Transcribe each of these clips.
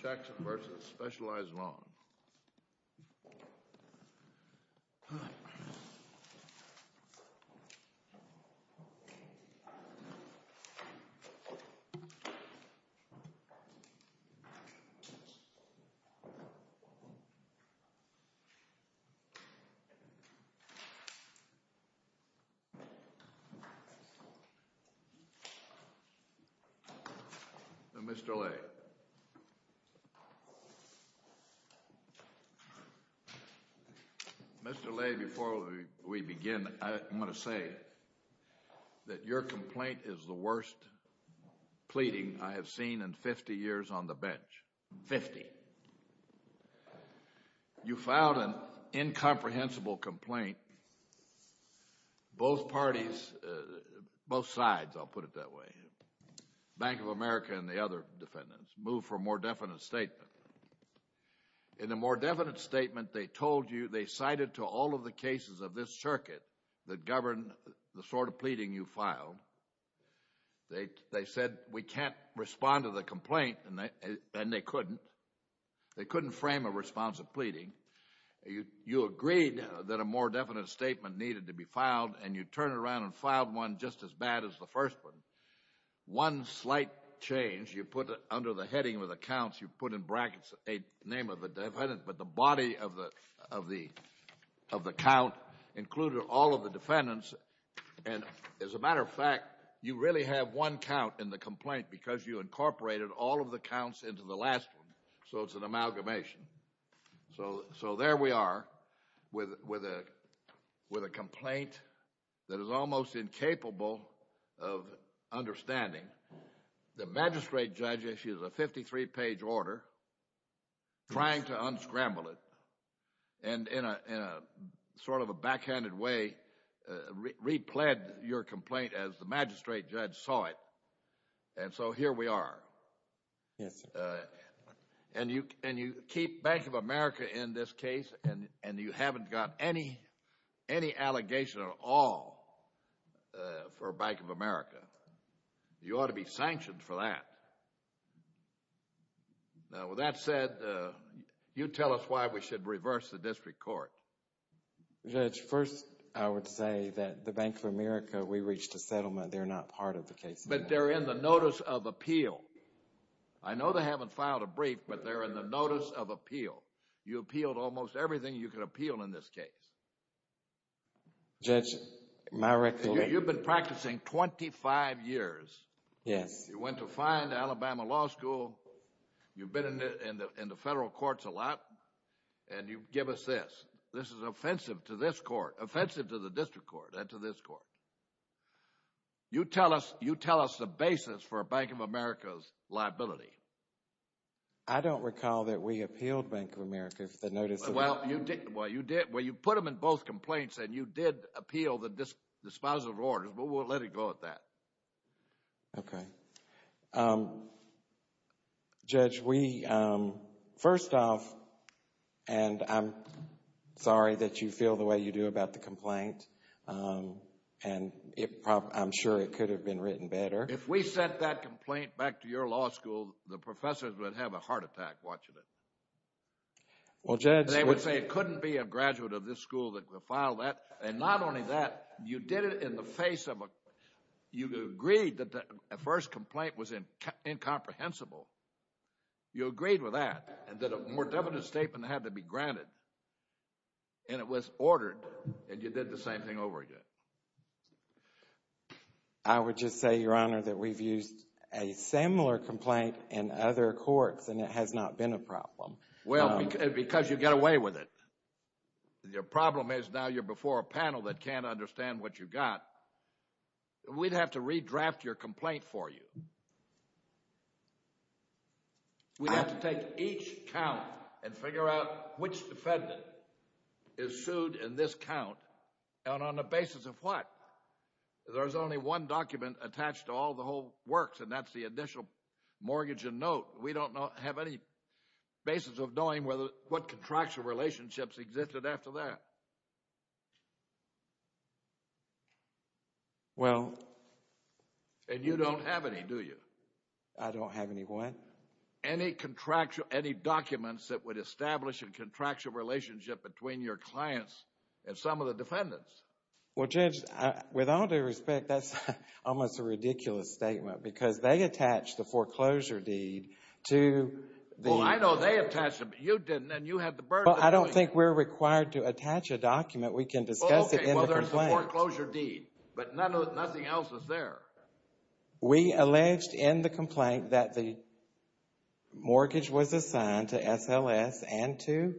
Jackson v. Specialized Loan Services, LLC. Mr. Lay, before we begin, I want to say that your complaint is the worst pleading I have seen in 50 years on the bench. Fifty. You filed an incomprehensible complaint. Both parties, both sides, I'll put it that way, Bank of America and the other defendants, moved for a more definite statement. In a more definite statement, they told you, they cited to all of the cases of this circuit that govern the sort of pleading you filed. They said we can't respond to the complaint, and they couldn't. They couldn't frame a response of pleading. You agreed that a more definite statement needed to be filed, and you turned around and filed one just as bad as the first one. One slight change, you put under the heading of the counts, you put in brackets a name of the defendant, but the body of the count included all of the defendants. And as a matter of fact, you really have one count in the complaint because you incorporated all of the counts into the last one, so it's an amalgamation. So there we are with a complaint that is almost incapable of understanding. The magistrate judge issued a 53-page order trying to unscramble it, and in a sort of a backhanded way, repled your complaint as the magistrate judge saw it. And so here we are. Yes, sir. And you keep Bank of America in this case, and you haven't got any allegation at all for Bank of America. You ought to be sanctioned for that. Now, with that said, you tell us why we should reverse the district court. Judge, first I would say that the Bank of America, we reached a settlement. They're not part of the case. But they're in the Notice of Appeal. I know they haven't filed a brief, but they're in the Notice of Appeal. You appealed almost everything you could appeal in this case. Judge, my recollection... You've been practicing 25 years. Yes. You went to fine Alabama Law School. You've been in the federal courts a lot. And you give us this. This is offensive to this court, offensive to the district court, and to this court. You tell us the basis for Bank of America's liability. I don't recall that we appealed Bank of America for the Notice of Appeal. Well, you did. Well, you put them in both complaints, and you did appeal the disposal of orders, but we'll let it go at that. Okay. Judge, we, first off, and I'm sorry that you feel the way you do about the complaint, and I'm sure it could have been written better. If we sent that complaint back to your law school, the professors would have a heart attack watching it. Well, Judge... You agreed that the first complaint was incomprehensible. You agreed with that, and that a more definite statement had to be granted. And it was ordered, and you did the same thing over again. I would just say, Your Honor, that we've used a similar complaint in other courts, and it has not been a problem. Well, because you got away with it. Your problem is now you're before a panel that can't understand what you got. We'd have to redraft your complaint for you. We'd have to take each count and figure out which defendant is sued in this count, and on the basis of what? There's only one document attached to all the whole works, and that's the initial mortgage and note. We don't have any basis of knowing what contractual relationships existed after that. Well... And you don't have any, do you? I don't have any what? Any documents that would establish a contractual relationship between your clients and some of the defendants. Well, Judge, with all due respect, that's almost a ridiculous statement, because they attached the foreclosure deed to the... Well, I know they attached it, but you didn't, and you had the burden of doing it. Well, I don't think we're required to attach a document. We can discuss it in the complaint. Well, there's the foreclosure deed, but nothing else was there. We alleged in the complaint that the mortgage was assigned to SLS and to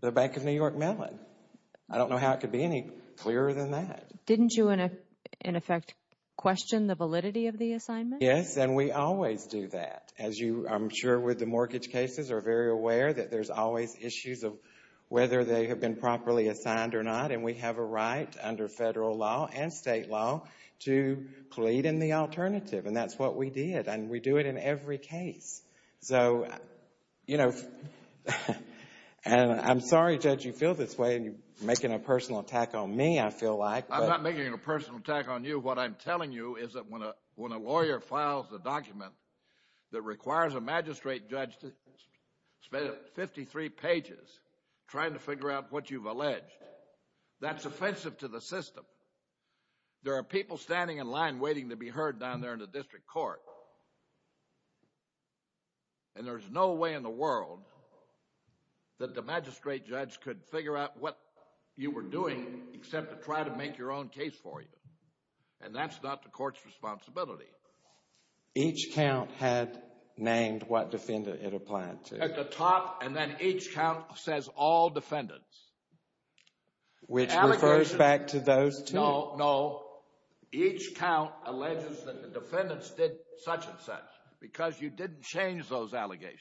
the Bank of New York Mellon. I don't know how it could be any clearer than that. Didn't you, in effect, question the validity of the assignment? Yes, and we always do that. As you, I'm sure, with the mortgage cases, are very aware that there's always issues of whether they have been properly assigned or not, and we have a right under federal law and state law to plead in the alternative, and that's what we did, and we do it in every case. So, you know, and I'm sorry, Judge, you feel this way, and you're making a personal attack on me, I feel like. I'm not making a personal attack on you. What I'm telling you is that when a lawyer files a document that requires a magistrate judge to spend 53 pages trying to figure out what you've alleged, that's offensive to the system. There are people standing in line waiting to be heard down there in the district court, and there's no way in the world that the magistrate judge could figure out what you were doing except to try to make your own case for you, and that's not the court's responsibility. Each count had named what defendant it applied to. At the top, and then each count says all defendants. Which refers back to those two. No, each count alleges that the defendants did such and such because you didn't change those allegations,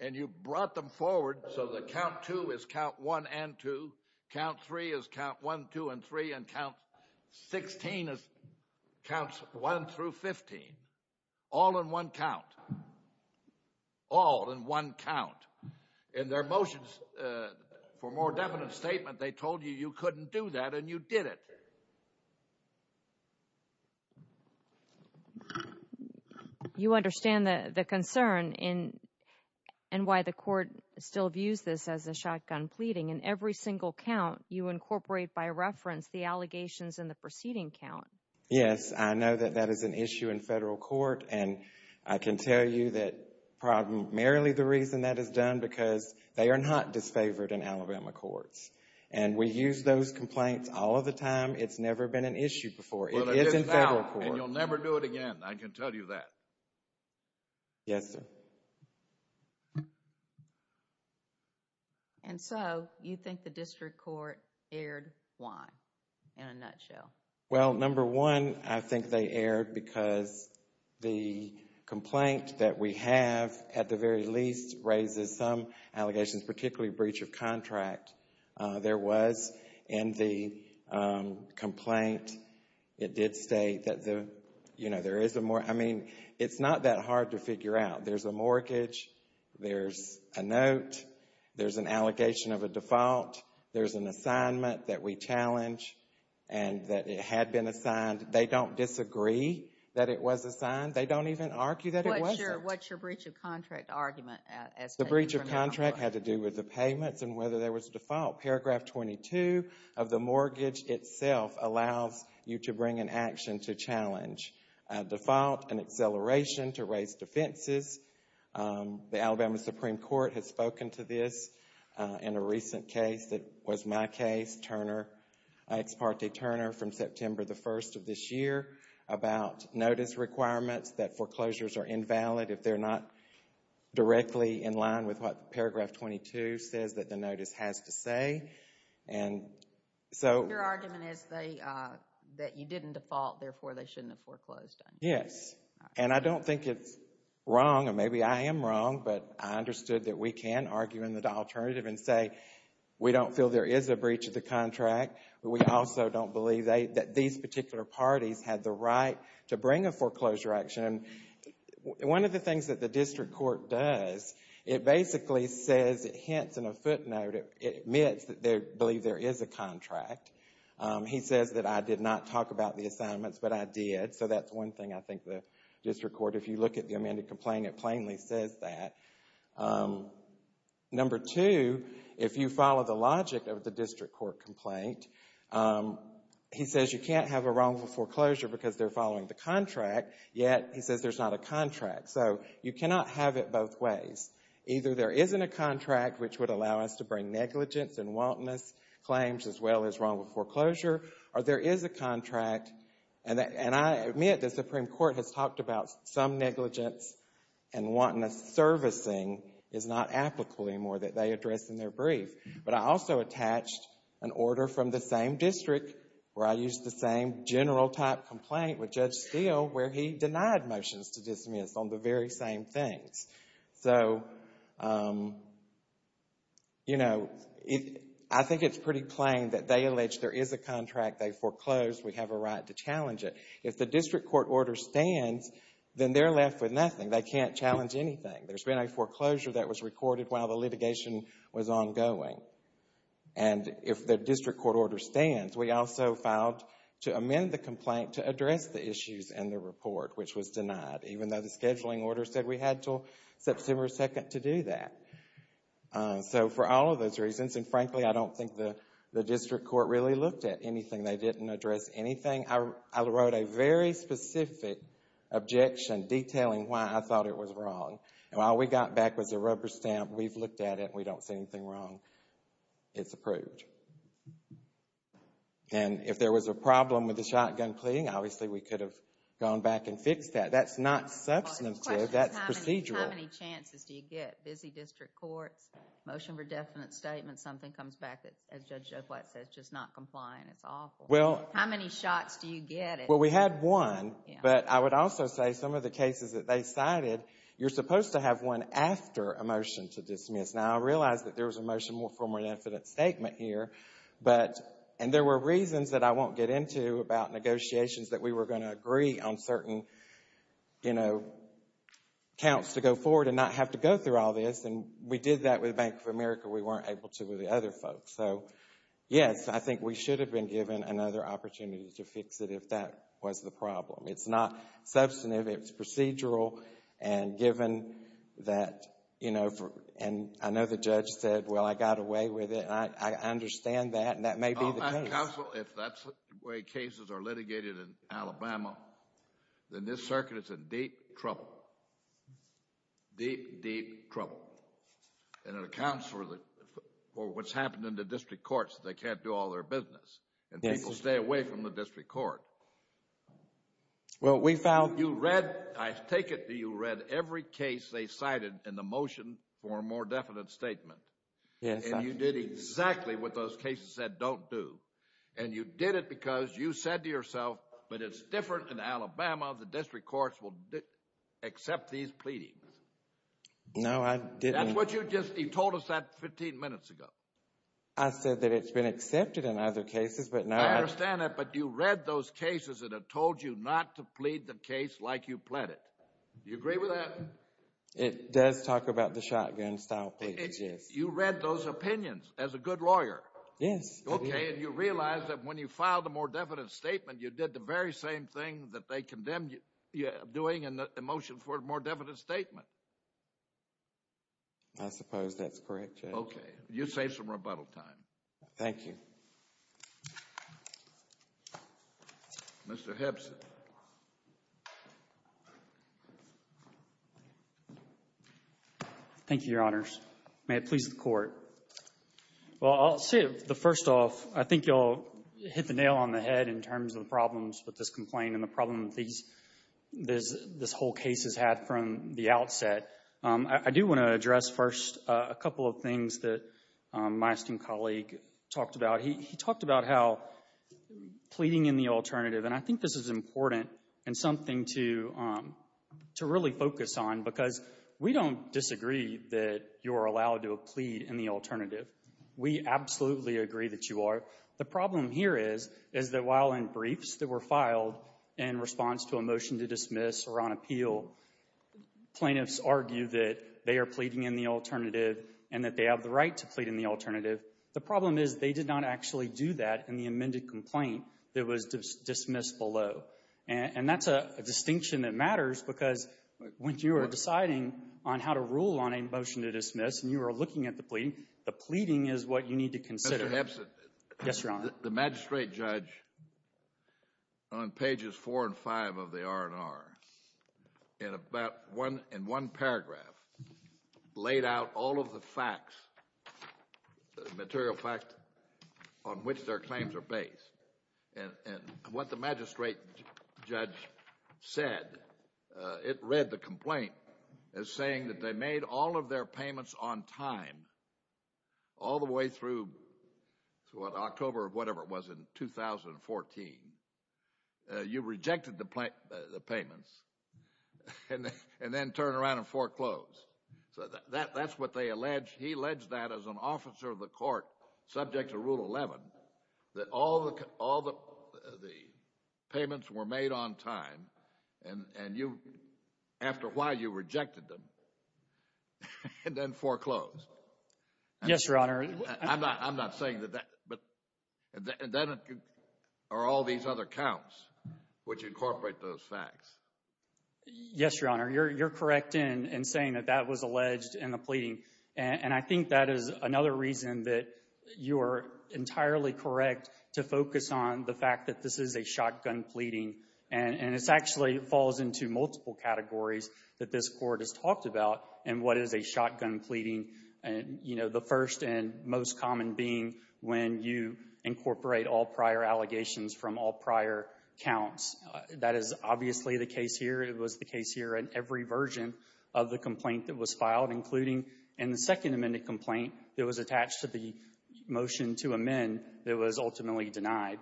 and you brought them forward so that count two is count one and two, count three is count one, two, and three, and count 16 is counts one through 15, all in one count, all in one count. In their motions for more definite statement, they told you you couldn't do that, and you did it. You understand the concern and why the court still views this as a shotgun pleading. In every single count, you incorporate by reference the allegations in the preceding count. Yes, I know that that is an issue in federal court, and I can tell you that primarily the reason that is done because they are not disfavored in Alabama courts, and we use those complaints all of the time. It's never been an issue before. It is in federal court. Well, it is now, and you'll never do it again. I can tell you that. Yes, sir. And so you think the district court aired why, in a nutshell? Well, number one, I think they aired because the complaint that we have, at the very least, raises some allegations, particularly breach of contract. There was in the complaint, it did state that, you know, there is a mortgage. I mean, it's not that hard to figure out. There's a mortgage. There's a note. There's an allegation of a default. There's an assignment that we challenge and that it had been assigned. They don't disagree that it was assigned. They don't even argue that it wasn't. What's your breach of contract argument? The breach of contract had to do with the payments and whether there was default. Paragraph 22 of the mortgage itself allows you to bring an action to challenge. A default, an acceleration to raise defenses. The Alabama Supreme Court has spoken to this in a recent case that was my case, Turner, Ex parte Turner, from September the 1st of this year, about notice requirements, that foreclosures are invalid if they're not directly in line with what paragraph 22 says that the notice has to say. Your argument is that you didn't default, therefore they shouldn't have foreclosed on you. Yes. And I don't think it's wrong, and maybe I am wrong, but I understood that we can argue in the alternative and say we don't feel there is a breach of the contract. We also don't believe that these particular parties had the right to bring a foreclosure action. One of the things that the district court does, it basically says, it hints in a footnote, it admits that they believe there is a contract. He says that I did not talk about the assignments, but I did. So that's one thing I think the district court, if you look at the amended complaint, it plainly says that. Number two, if you follow the logic of the district court complaint, he says you can't have a wrongful foreclosure because they're following the contract, yet he says there's not a contract. So you cannot have it both ways. Either there isn't a contract, which would allow us to bring negligence and wantonness claims as well as wrongful foreclosure, or there is a contract, and I admit the Supreme Court has talked about some negligence and wantonness servicing is not applicable anymore that they address in their brief. But I also attached an order from the same district where I used the same general type complaint with Judge Steele where he denied motions to dismiss on the very same things. So, you know, I think it's pretty plain that they allege there is a contract. They foreclosed. We have a right to challenge it. If the district court order stands, then they're left with nothing. They can't challenge anything. There's been a foreclosure that was recorded while the litigation was ongoing. And if the district court order stands, we also filed to amend the complaint to address the issues in the report, which was denied, even though the scheduling order said we had until September 2nd to do that. So for all of those reasons, and frankly, I don't think the district court really looked at anything. They didn't address anything. I wrote a very specific objection detailing why I thought it was wrong. And all we got back was a rubber stamp, we've looked at it, and we don't see anything wrong. It's approved. And if there was a problem with the shotgun plea, obviously we could have gone back and fixed that. That's not substantive. That's procedural. How many chances do you get? Busy district courts, motion for definite statement, something comes back that, as Judge Joe Flatt says, just not complying, it's awful. How many shots do you get? Well, we had one, but I would also say some of the cases that they cited, you're supposed to have one after a motion to dismiss. Now, I realize that there was a motion for more definite statement here, and there were reasons that I won't get into about negotiations that we were going to agree on certain, you know, counts to go forward and not have to go through all this. And we did that with Bank of America. We weren't able to with the other folks. So, yes, I think we should have been given another opportunity to fix it if that was the problem. It's not substantive. It's procedural. And given that, you know, and I know the judge said, well, I got away with it, and I understand that, and that may be the case. Counsel, if that's the way cases are litigated in Alabama, then this circuit is in deep trouble, deep, deep trouble. And it accounts for what's happened in the district courts. They can't do all their business. And people stay away from the district court. Well, we filed. You read, I take it that you read every case they cited in the motion for a more definite statement. Yes, I did. And you did exactly what those cases said don't do. And you did it because you said to yourself, but it's different in Alabama. The district courts will accept these pleadings. No, I didn't. That's what you just, you told us that 15 minutes ago. I said that it's been accepted in other cases, but no. I understand that, but you read those cases that have told you not to plead the case like you pled it. Do you agree with that? It does talk about the shotgun-style pleadings, yes. You read those opinions as a good lawyer. Yes. Okay, and you realized that when you filed a more definite statement, you did the very same thing that they condemned you doing in the motion for a more definite statement. I suppose that's correct, Judge. Okay. You saved some rebuttal time. Thank you. Mr. Hebbs. Thank you, Your Honors. May it please the Court. Well, I'll say the first off, I think you all hit the nail on the head in terms of the problems with this complaint and the problem that this whole case has had from the outset. I do want to address first a couple of things that my esteemed colleague talked about. He talked about how pleading in the alternative, and I think this is important and something to really focus on because we don't disagree that you're allowed to plead in the alternative. We absolutely agree that you are. The problem here is that while in briefs that were filed in response to a motion to dismiss or on appeal, plaintiffs argue that they are pleading in the alternative and that they have the right to plead in the alternative. The problem is they did not actually do that in the amended complaint that was dismissed below, and that's a distinction that matters because when you are deciding on how to rule on a motion to dismiss and you are looking at the pleading, the pleading is what you need to consider. Yes, Your Honor. The magistrate judge on pages four and five of the R&R in one paragraph laid out all of the facts, the material facts on which their claims are based. And what the magistrate judge said, it read the complaint as saying that they made all of their payments on time all the way through October of whatever it was in 2014. You rejected the payments and then turned around and foreclosed. So that's what they alleged. He alleged that as an officer of the court subject to Rule 11, that all the payments were made on time and you, after a while, you rejected them and then foreclosed. Yes, Your Honor. I'm not saying that that, but then are all these other counts which incorporate those facts. Yes, Your Honor. You're correct in saying that that was alleged in the pleading. And I think that is another reason that you are entirely correct to focus on the fact that this is a shotgun pleading. And this actually falls into multiple categories that this court has talked about. And what is a shotgun pleading? You know, the first and most common being when you incorporate all prior allegations from all prior counts. That is obviously the case here. It was the case here in every version of the complaint that was filed, including in the second amended complaint that was attached to the motion to amend that was ultimately denied.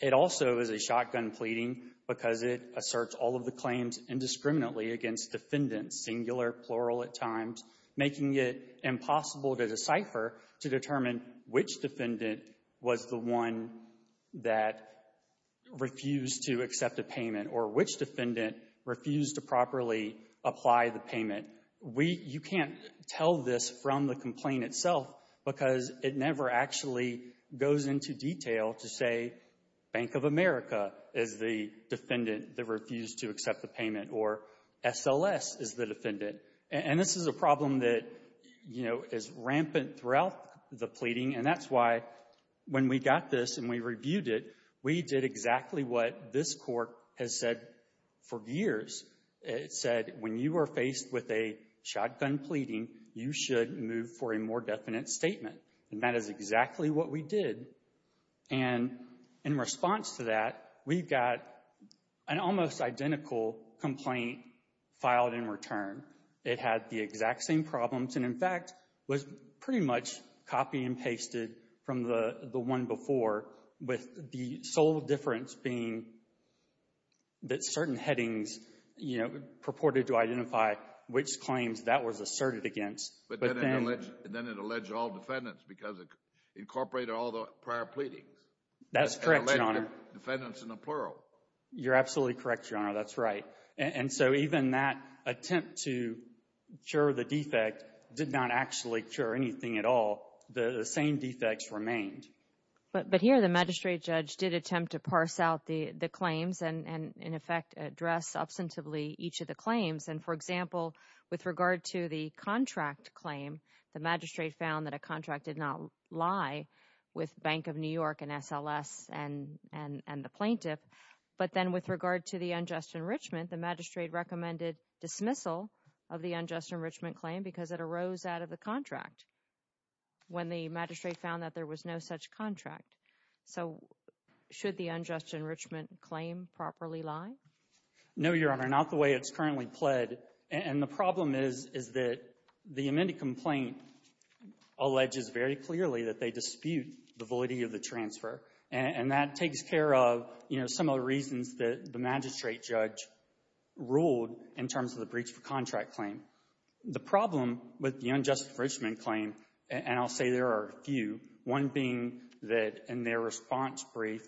It also is a shotgun pleading because it asserts all of the claims indiscriminately against defendants, singular, plural at times, making it impossible to decipher to determine which defendant was the one that refused to accept a payment or which defendant refused to properly apply the payment. You can't tell this from the complaint itself because it never actually goes into detail to say Bank of America is the defendant that refused to accept the payment or SLS is the defendant. And this is a problem that, you know, is rampant throughout the pleading. And that's why when we got this and we reviewed it, we did exactly what this court has said for years. It said when you are faced with a shotgun pleading, you should move for a more definite statement. And that is exactly what we did. And in response to that, we've got an almost identical complaint filed in return. It had the exact same problems and, in fact, was pretty much copy and pasted from the one before with the sole difference being that certain headings, you know, purported to identify which claims that was asserted against. But then it alleged all defendants because it incorporated all the prior pleadings. That's correct, Your Honor. It alleged defendants in the plural. You're absolutely correct, Your Honor. That's right. And so even that attempt to cure the defect did not actually cure anything at all. The same defects remained. But here the magistrate judge did attempt to parse out the claims and, in effect, address substantively each of the claims. And, for example, with regard to the contract claim, the magistrate found that a contract did not lie with Bank of New York and SLS and the plaintiff. But then with regard to the unjust enrichment, the magistrate recommended dismissal of the unjust enrichment claim because it arose out of the contract. When the magistrate found that there was no such contract. So should the unjust enrichment claim properly lie? No, Your Honor, not the way it's currently pled. And the problem is that the amended complaint alleges very clearly that they dispute the voiding of the transfer. And that takes care of, you know, some of the reasons that the magistrate judge ruled in terms of the breach for contract claim. The problem with the unjust enrichment claim, and I'll say there are a few, one being that in their response brief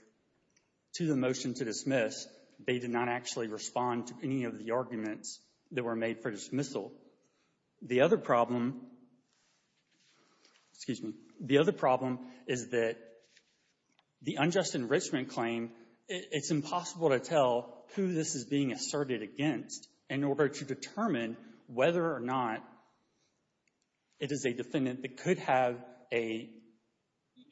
to the motion to dismiss, they did not actually respond to any of the arguments that were made for dismissal. The other problem is that the unjust enrichment claim, it's impossible to tell who this is being asserted against in order to determine whether or not it is a defendant that could have a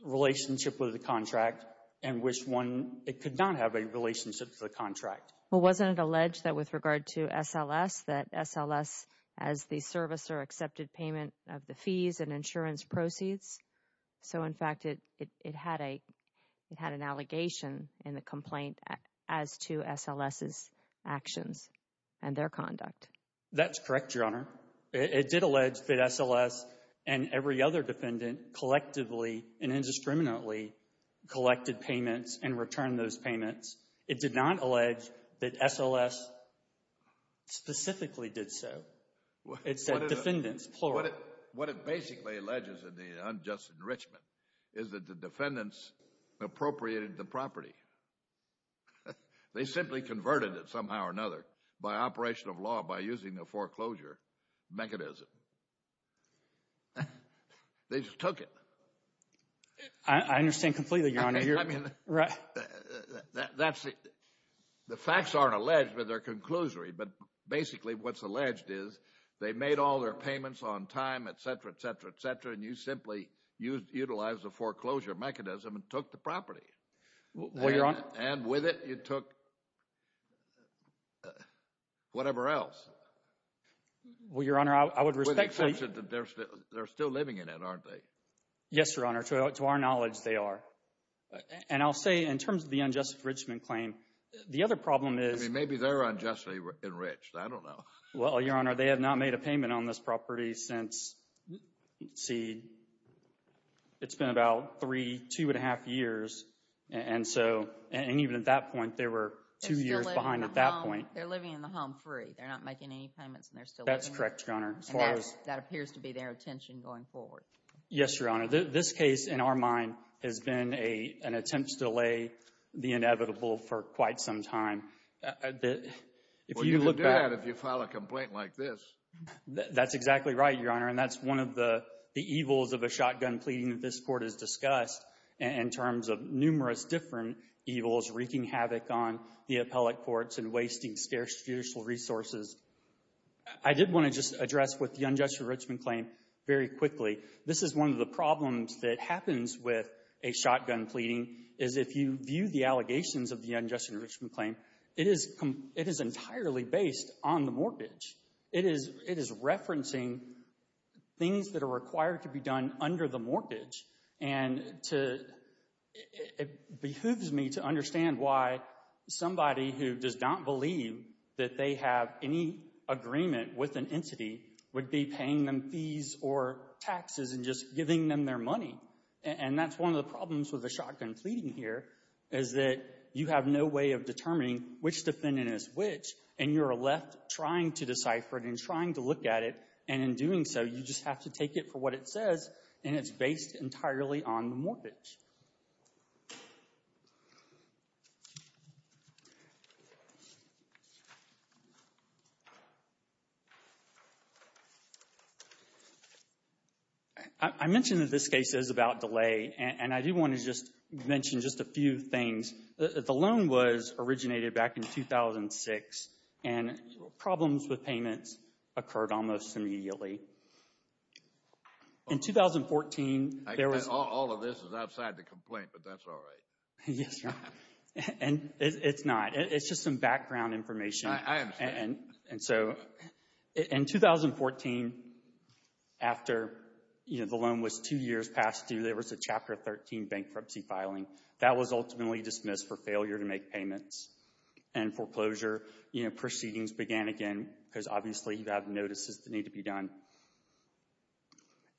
relationship with the contract and which one it could not have a relationship to the contract. Well, wasn't it alleged that with regard to SLS, that SLS as the servicer accepted payment of the fees and insurance proceeds? So, in fact, it had an allegation in the complaint as to SLS's actions. That's correct, Your Honor. It did allege that SLS and every other defendant collectively and indiscriminately collected payments and returned those payments. It did not allege that SLS specifically did so. It said defendants, plural. What it basically alleges in the unjust enrichment is that the defendants appropriated the property. They simply converted it somehow or another by operation of law by using the foreclosure mechanism. They just took it. I understand completely, Your Honor. I mean, the facts aren't alleged, but they're conclusory. But basically what's alleged is they made all their payments on time, et cetera, et cetera, et cetera, and you simply utilized the foreclosure mechanism and took the property. And with it, you took whatever else. Well, Your Honor, I would respectfully— With the exception that they're still living in it, aren't they? Yes, Your Honor. To our knowledge, they are. And I'll say in terms of the unjust enrichment claim, the other problem is— I mean, maybe they're unjustly enriched. I don't know. Well, Your Honor, they have not made a payment on this property since, let's see, it's been about three, two and a half years. And so—and even at that point, they were two years behind at that point. They're still living in the home. They're living in the home free. They're not making any payments, and they're still living in it. That's correct, Your Honor. And that appears to be their intention going forward. Yes, Your Honor. This case, in our mind, has been an attempt to delay the inevitable for quite some time. Well, you can do that if you file a complaint like this. That's exactly right, Your Honor. And that's one of the evils of a shotgun pleading that this Court has discussed in terms of numerous different evils wreaking havoc on the appellate courts and wasting scarce judicial resources. I did want to just address with the unjust enrichment claim very quickly. This is one of the problems that happens with a shotgun pleading, is if you view the allegations of the unjust enrichment claim, it is entirely based on the mortgage. It is referencing things that are required to be done under the mortgage. And it behooves me to understand why somebody who does not believe that they have any agreement with an entity would be paying them fees or taxes and just giving them their money. And that's one of the problems with the shotgun pleading here, is that you have no way of determining which defendant is which, and you're left trying to decipher it and trying to look at it. And in doing so, you just have to take it for what it says, and it's based entirely on the mortgage. I mentioned that this case is about delay, and I do want to just mention just a few things. The loan was originated back in 2006, and problems with payments occurred almost immediately. In 2014, there was... All of this is outside the complaint, but that's all right. Yes, sir. And it's not. It's just some background information. I understand. And so in 2014, after the loan was two years past due, there was a Chapter 13 bankruptcy filing. That was ultimately dismissed for failure to make payments, and foreclosure proceedings began again because obviously you have notices that need to be done.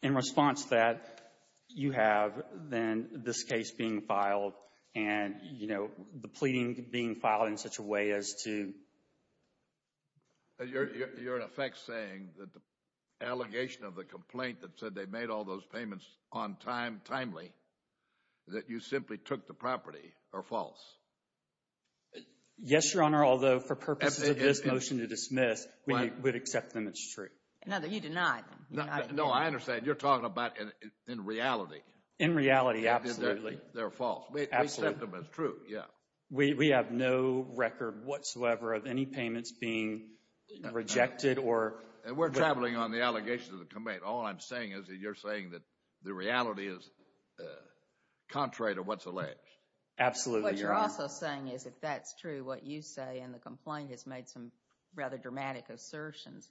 In response to that, you have then this case being filed and the pleading being filed in such a way as to... You're in effect saying that the allegation of the complaint that said they made all those payments on time, timely, that you simply took the property, are false. Yes, Your Honor, although for purposes of this motion to dismiss, we would accept them as true. No, you deny them. No, I understand. You're talking about in reality. In reality, absolutely. They're false. We accept them as true, yeah. We have no record whatsoever of any payments being rejected or... And we're traveling on the allegation of the complaint. All I'm saying is that you're saying that the reality is contrary to what's alleged. Absolutely, Your Honor. What you're also saying is if that's true, what you say in the complaint has made some rather dramatic assertions,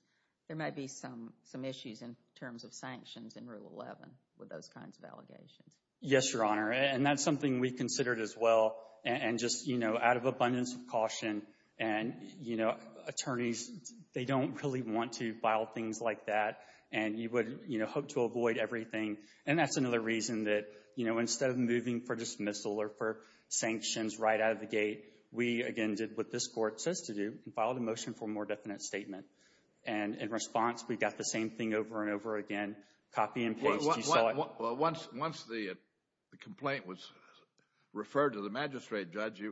there may be some issues in terms of sanctions in Rule 11 with those kinds of allegations. Yes, Your Honor, and that's something we considered as well and just, you know, out of abundance of caution. And, you know, attorneys, they don't really want to file things like that, and you would, you know, hope to avoid everything. And that's another reason that, you know, instead of moving for dismissal or for sanctions right out of the gate, we again did what this Court says to do and filed a motion for a more definite statement. And in response, we got the same thing over and over again, copy and paste. You saw it. Well, once the complaint was referred to the magistrate judge,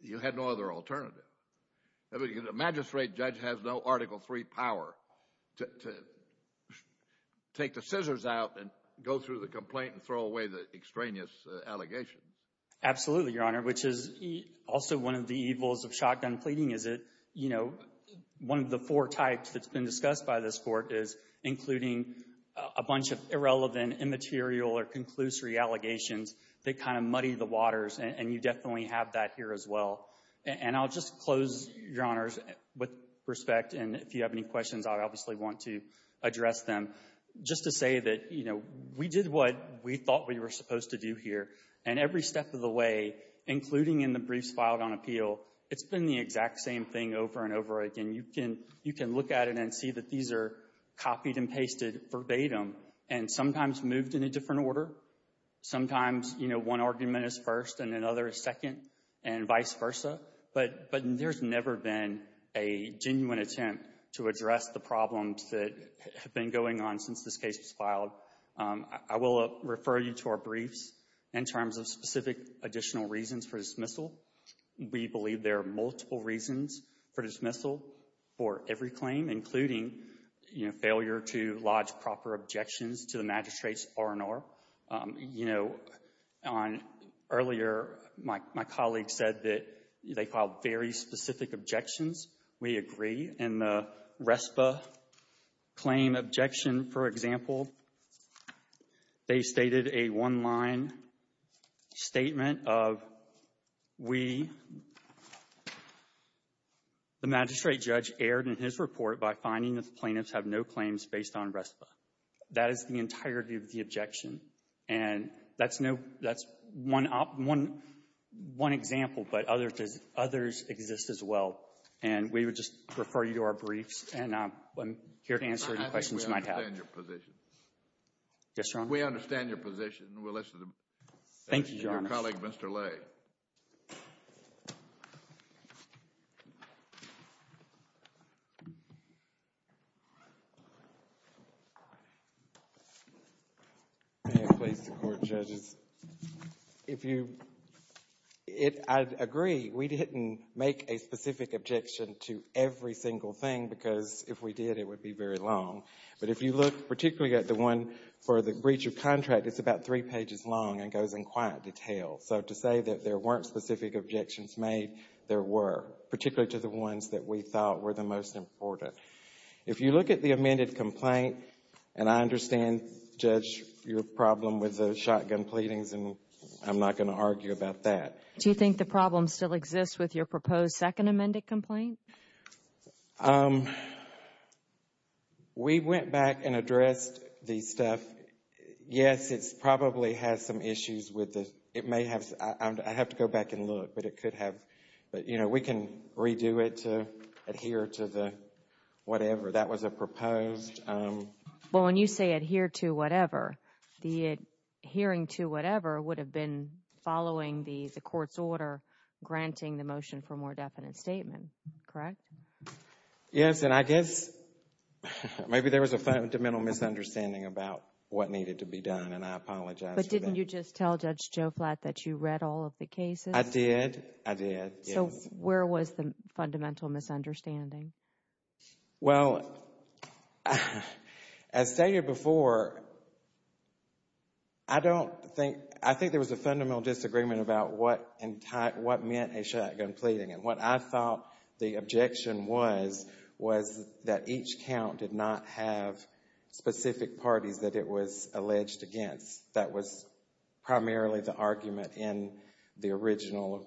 you had no other alternative. The magistrate judge has no Article III power to take the scissors out and go through the complaint and throw away the extraneous allegations. Absolutely, Your Honor, which is also one of the evils of shotgun pleading is that, you know, one of the four types that's been discussed by this Court is including a bunch of irrelevant, immaterial, or conclusory allegations that kind of muddy the waters, and you definitely have that here as well. And I'll just close, Your Honors, with respect, and if you have any questions, I'd obviously want to address them. Just to say that, you know, we did what we thought we were supposed to do here, and every step of the way, including in the briefs filed on appeal, it's been the exact same thing over and over again. You can look at it and see that these are copied and pasted verbatim and sometimes moved in a different order. Sometimes, you know, one argument is first and another is second and vice versa, but there's never been a genuine attempt to address the problems that have been going on since this case was filed. I will refer you to our briefs. In terms of specific additional reasons for dismissal, we believe there are multiple reasons for dismissal for every claim, including, you know, failure to lodge proper objections to the magistrates R&R. You know, earlier my colleague said that they filed very specific objections. We agree. In the RESPA claim objection, for example, they stated a one-line statement of, we, the magistrate judge, erred in his report by finding that the plaintiffs have no claims based on RESPA. That is the entirety of the objection. And that's one example, but others exist as well. And we would just refer you to our briefs, and I'm here to answer any questions you might have. I think we understand your position. Yes, Your Honor. We understand your position. Thank you, Your Honor. Thank you, colleague. Mr. Lay. May it please the Court, judges. If you — I agree. We didn't make a specific objection to every single thing, because if we did, it would be very long. But if you look particularly at the one for the breach of contract, it's about three pages long and goes in quite detail. So to say that there weren't specific objections made, there were, particularly to the ones that we thought were the most important. If you look at the amended complaint, and I understand, Judge, your problem with the shotgun pleadings, and I'm not going to argue about that. Do you think the problem still exists with your proposed second amended complaint? We went back and addressed the stuff. Yes, it probably has some issues with it. I have to go back and look, but it could have. But, you know, we can redo it to adhere to the whatever. That was a proposed. Well, when you say adhere to whatever, the adhering to whatever would have been following the court's order, granting the motion for a more definite statement. Correct? Yes. And I guess maybe there was a fundamental misunderstanding about what needed to be done, and I apologize for that. But didn't you just tell Judge Joe Flatt that you read all of the cases? I did, I did, yes. So where was the fundamental misunderstanding? Well, as stated before, I think there was a fundamental disagreement about what meant a shotgun pleading. And what I thought the objection was, was that each count did not have specific parties that it was alleged against. That was primarily the argument in the original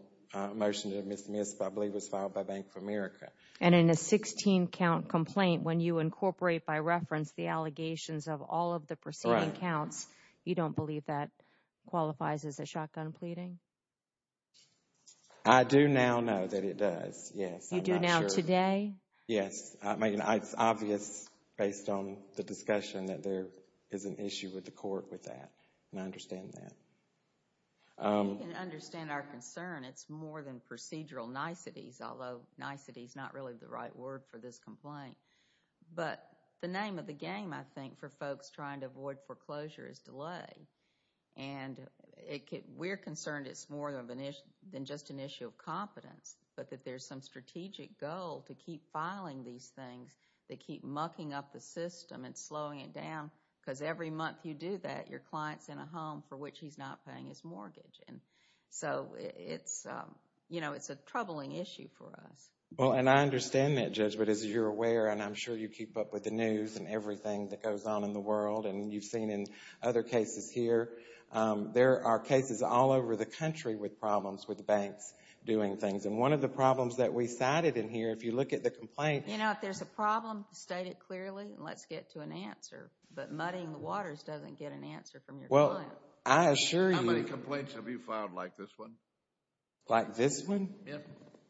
motion that I believe was filed by Bank of America. And in a 16-count complaint, when you incorporate by reference the allegations of all of the preceding counts, you don't believe that qualifies as a shotgun pleading? I do now know that it does, yes. You do now today? Yes. It's obvious based on the discussion that there is an issue with the court with that. And I understand that. We can understand our concern. It's more than procedural niceties, although niceties is not really the right word for this complaint. But the name of the game, I think, for folks trying to avoid foreclosure is delay. And we're concerned it's more than just an issue of competence, but that there's some strategic goal to keep filing these things that keep mucking up the system and slowing it down because every month you do that, your client's in a home for which he's not paying his mortgage. And so it's a troubling issue for us. Well, and I understand that, Judge. But as you're aware, and I'm sure you keep up with the news and everything that goes on in the world, and you've seen in other cases here, there are cases all over the country with problems with banks doing things. And one of the problems that we cited in here, if you look at the complaints. You know, if there's a problem, state it clearly and let's get to an answer. But muddying the waters doesn't get an answer from your client. Well, I assure you. How many complaints have you filed like this one? Like this one? Yes.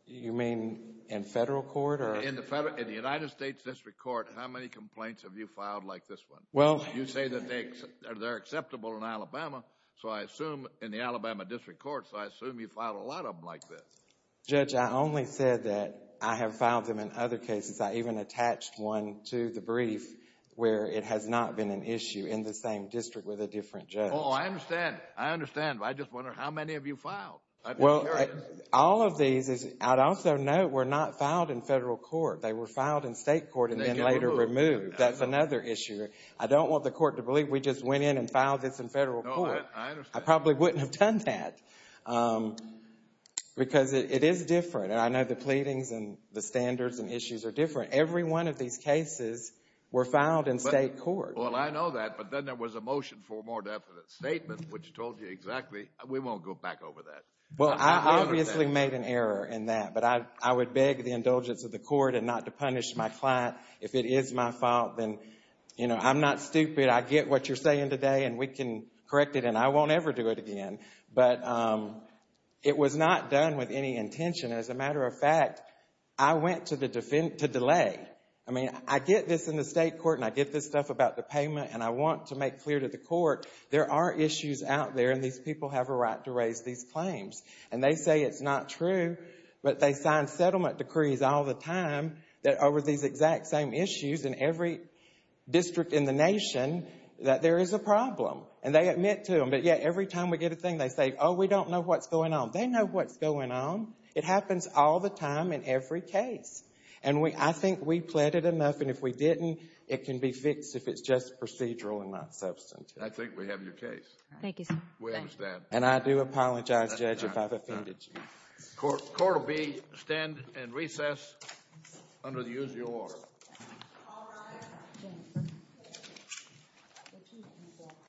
You mean in federal court? In the United States District Court, how many complaints have you filed like this one? You say that they're acceptable in Alabama, so I assume in the Alabama District Court, so I assume you file a lot of them like this. Judge, I only said that I have filed them in other cases. I even attached one to the brief where it has not been an issue in the same district with a different judge. Oh, I understand. I understand. I just wonder how many have you filed? Well, all of these, I'd also note, were not filed in federal court. They were filed in state court and then later removed. That's another issue. I don't want the court to believe we just went in and filed this in federal court. I probably wouldn't have done that because it is different, and I know the pleadings and the standards and issues are different. Every one of these cases were filed in state court. Well, I know that, but then there was a motion for a more definite statement which told you exactly. We won't go back over that. Well, I obviously made an error in that, but I would beg the indulgence of the court and not to punish my client if it is my fault. Then, you know, I'm not stupid. I get what you're saying today, and we can correct it, and I won't ever do it again. But it was not done with any intention. As a matter of fact, I went to delay. I mean, I get this in the state court, and I get this stuff about the payment, and I want to make clear to the court there are issues out there, and these people have a right to raise these claims. And they say it's not true, but they sign settlement decrees all the time that over these exact same issues in every district in the nation that there is a problem, and they admit to them. But, yeah, every time we get a thing, they say, oh, we don't know what's going on. They know what's going on. It happens all the time in every case. And I think we pleaded enough, and if we didn't, it can be fixed if it's just procedural and not substantive. I think we have your case. Thank you, sir. We understand. And I do apologize, Judge, if I've offended you. Court will stand and recess under the usual order.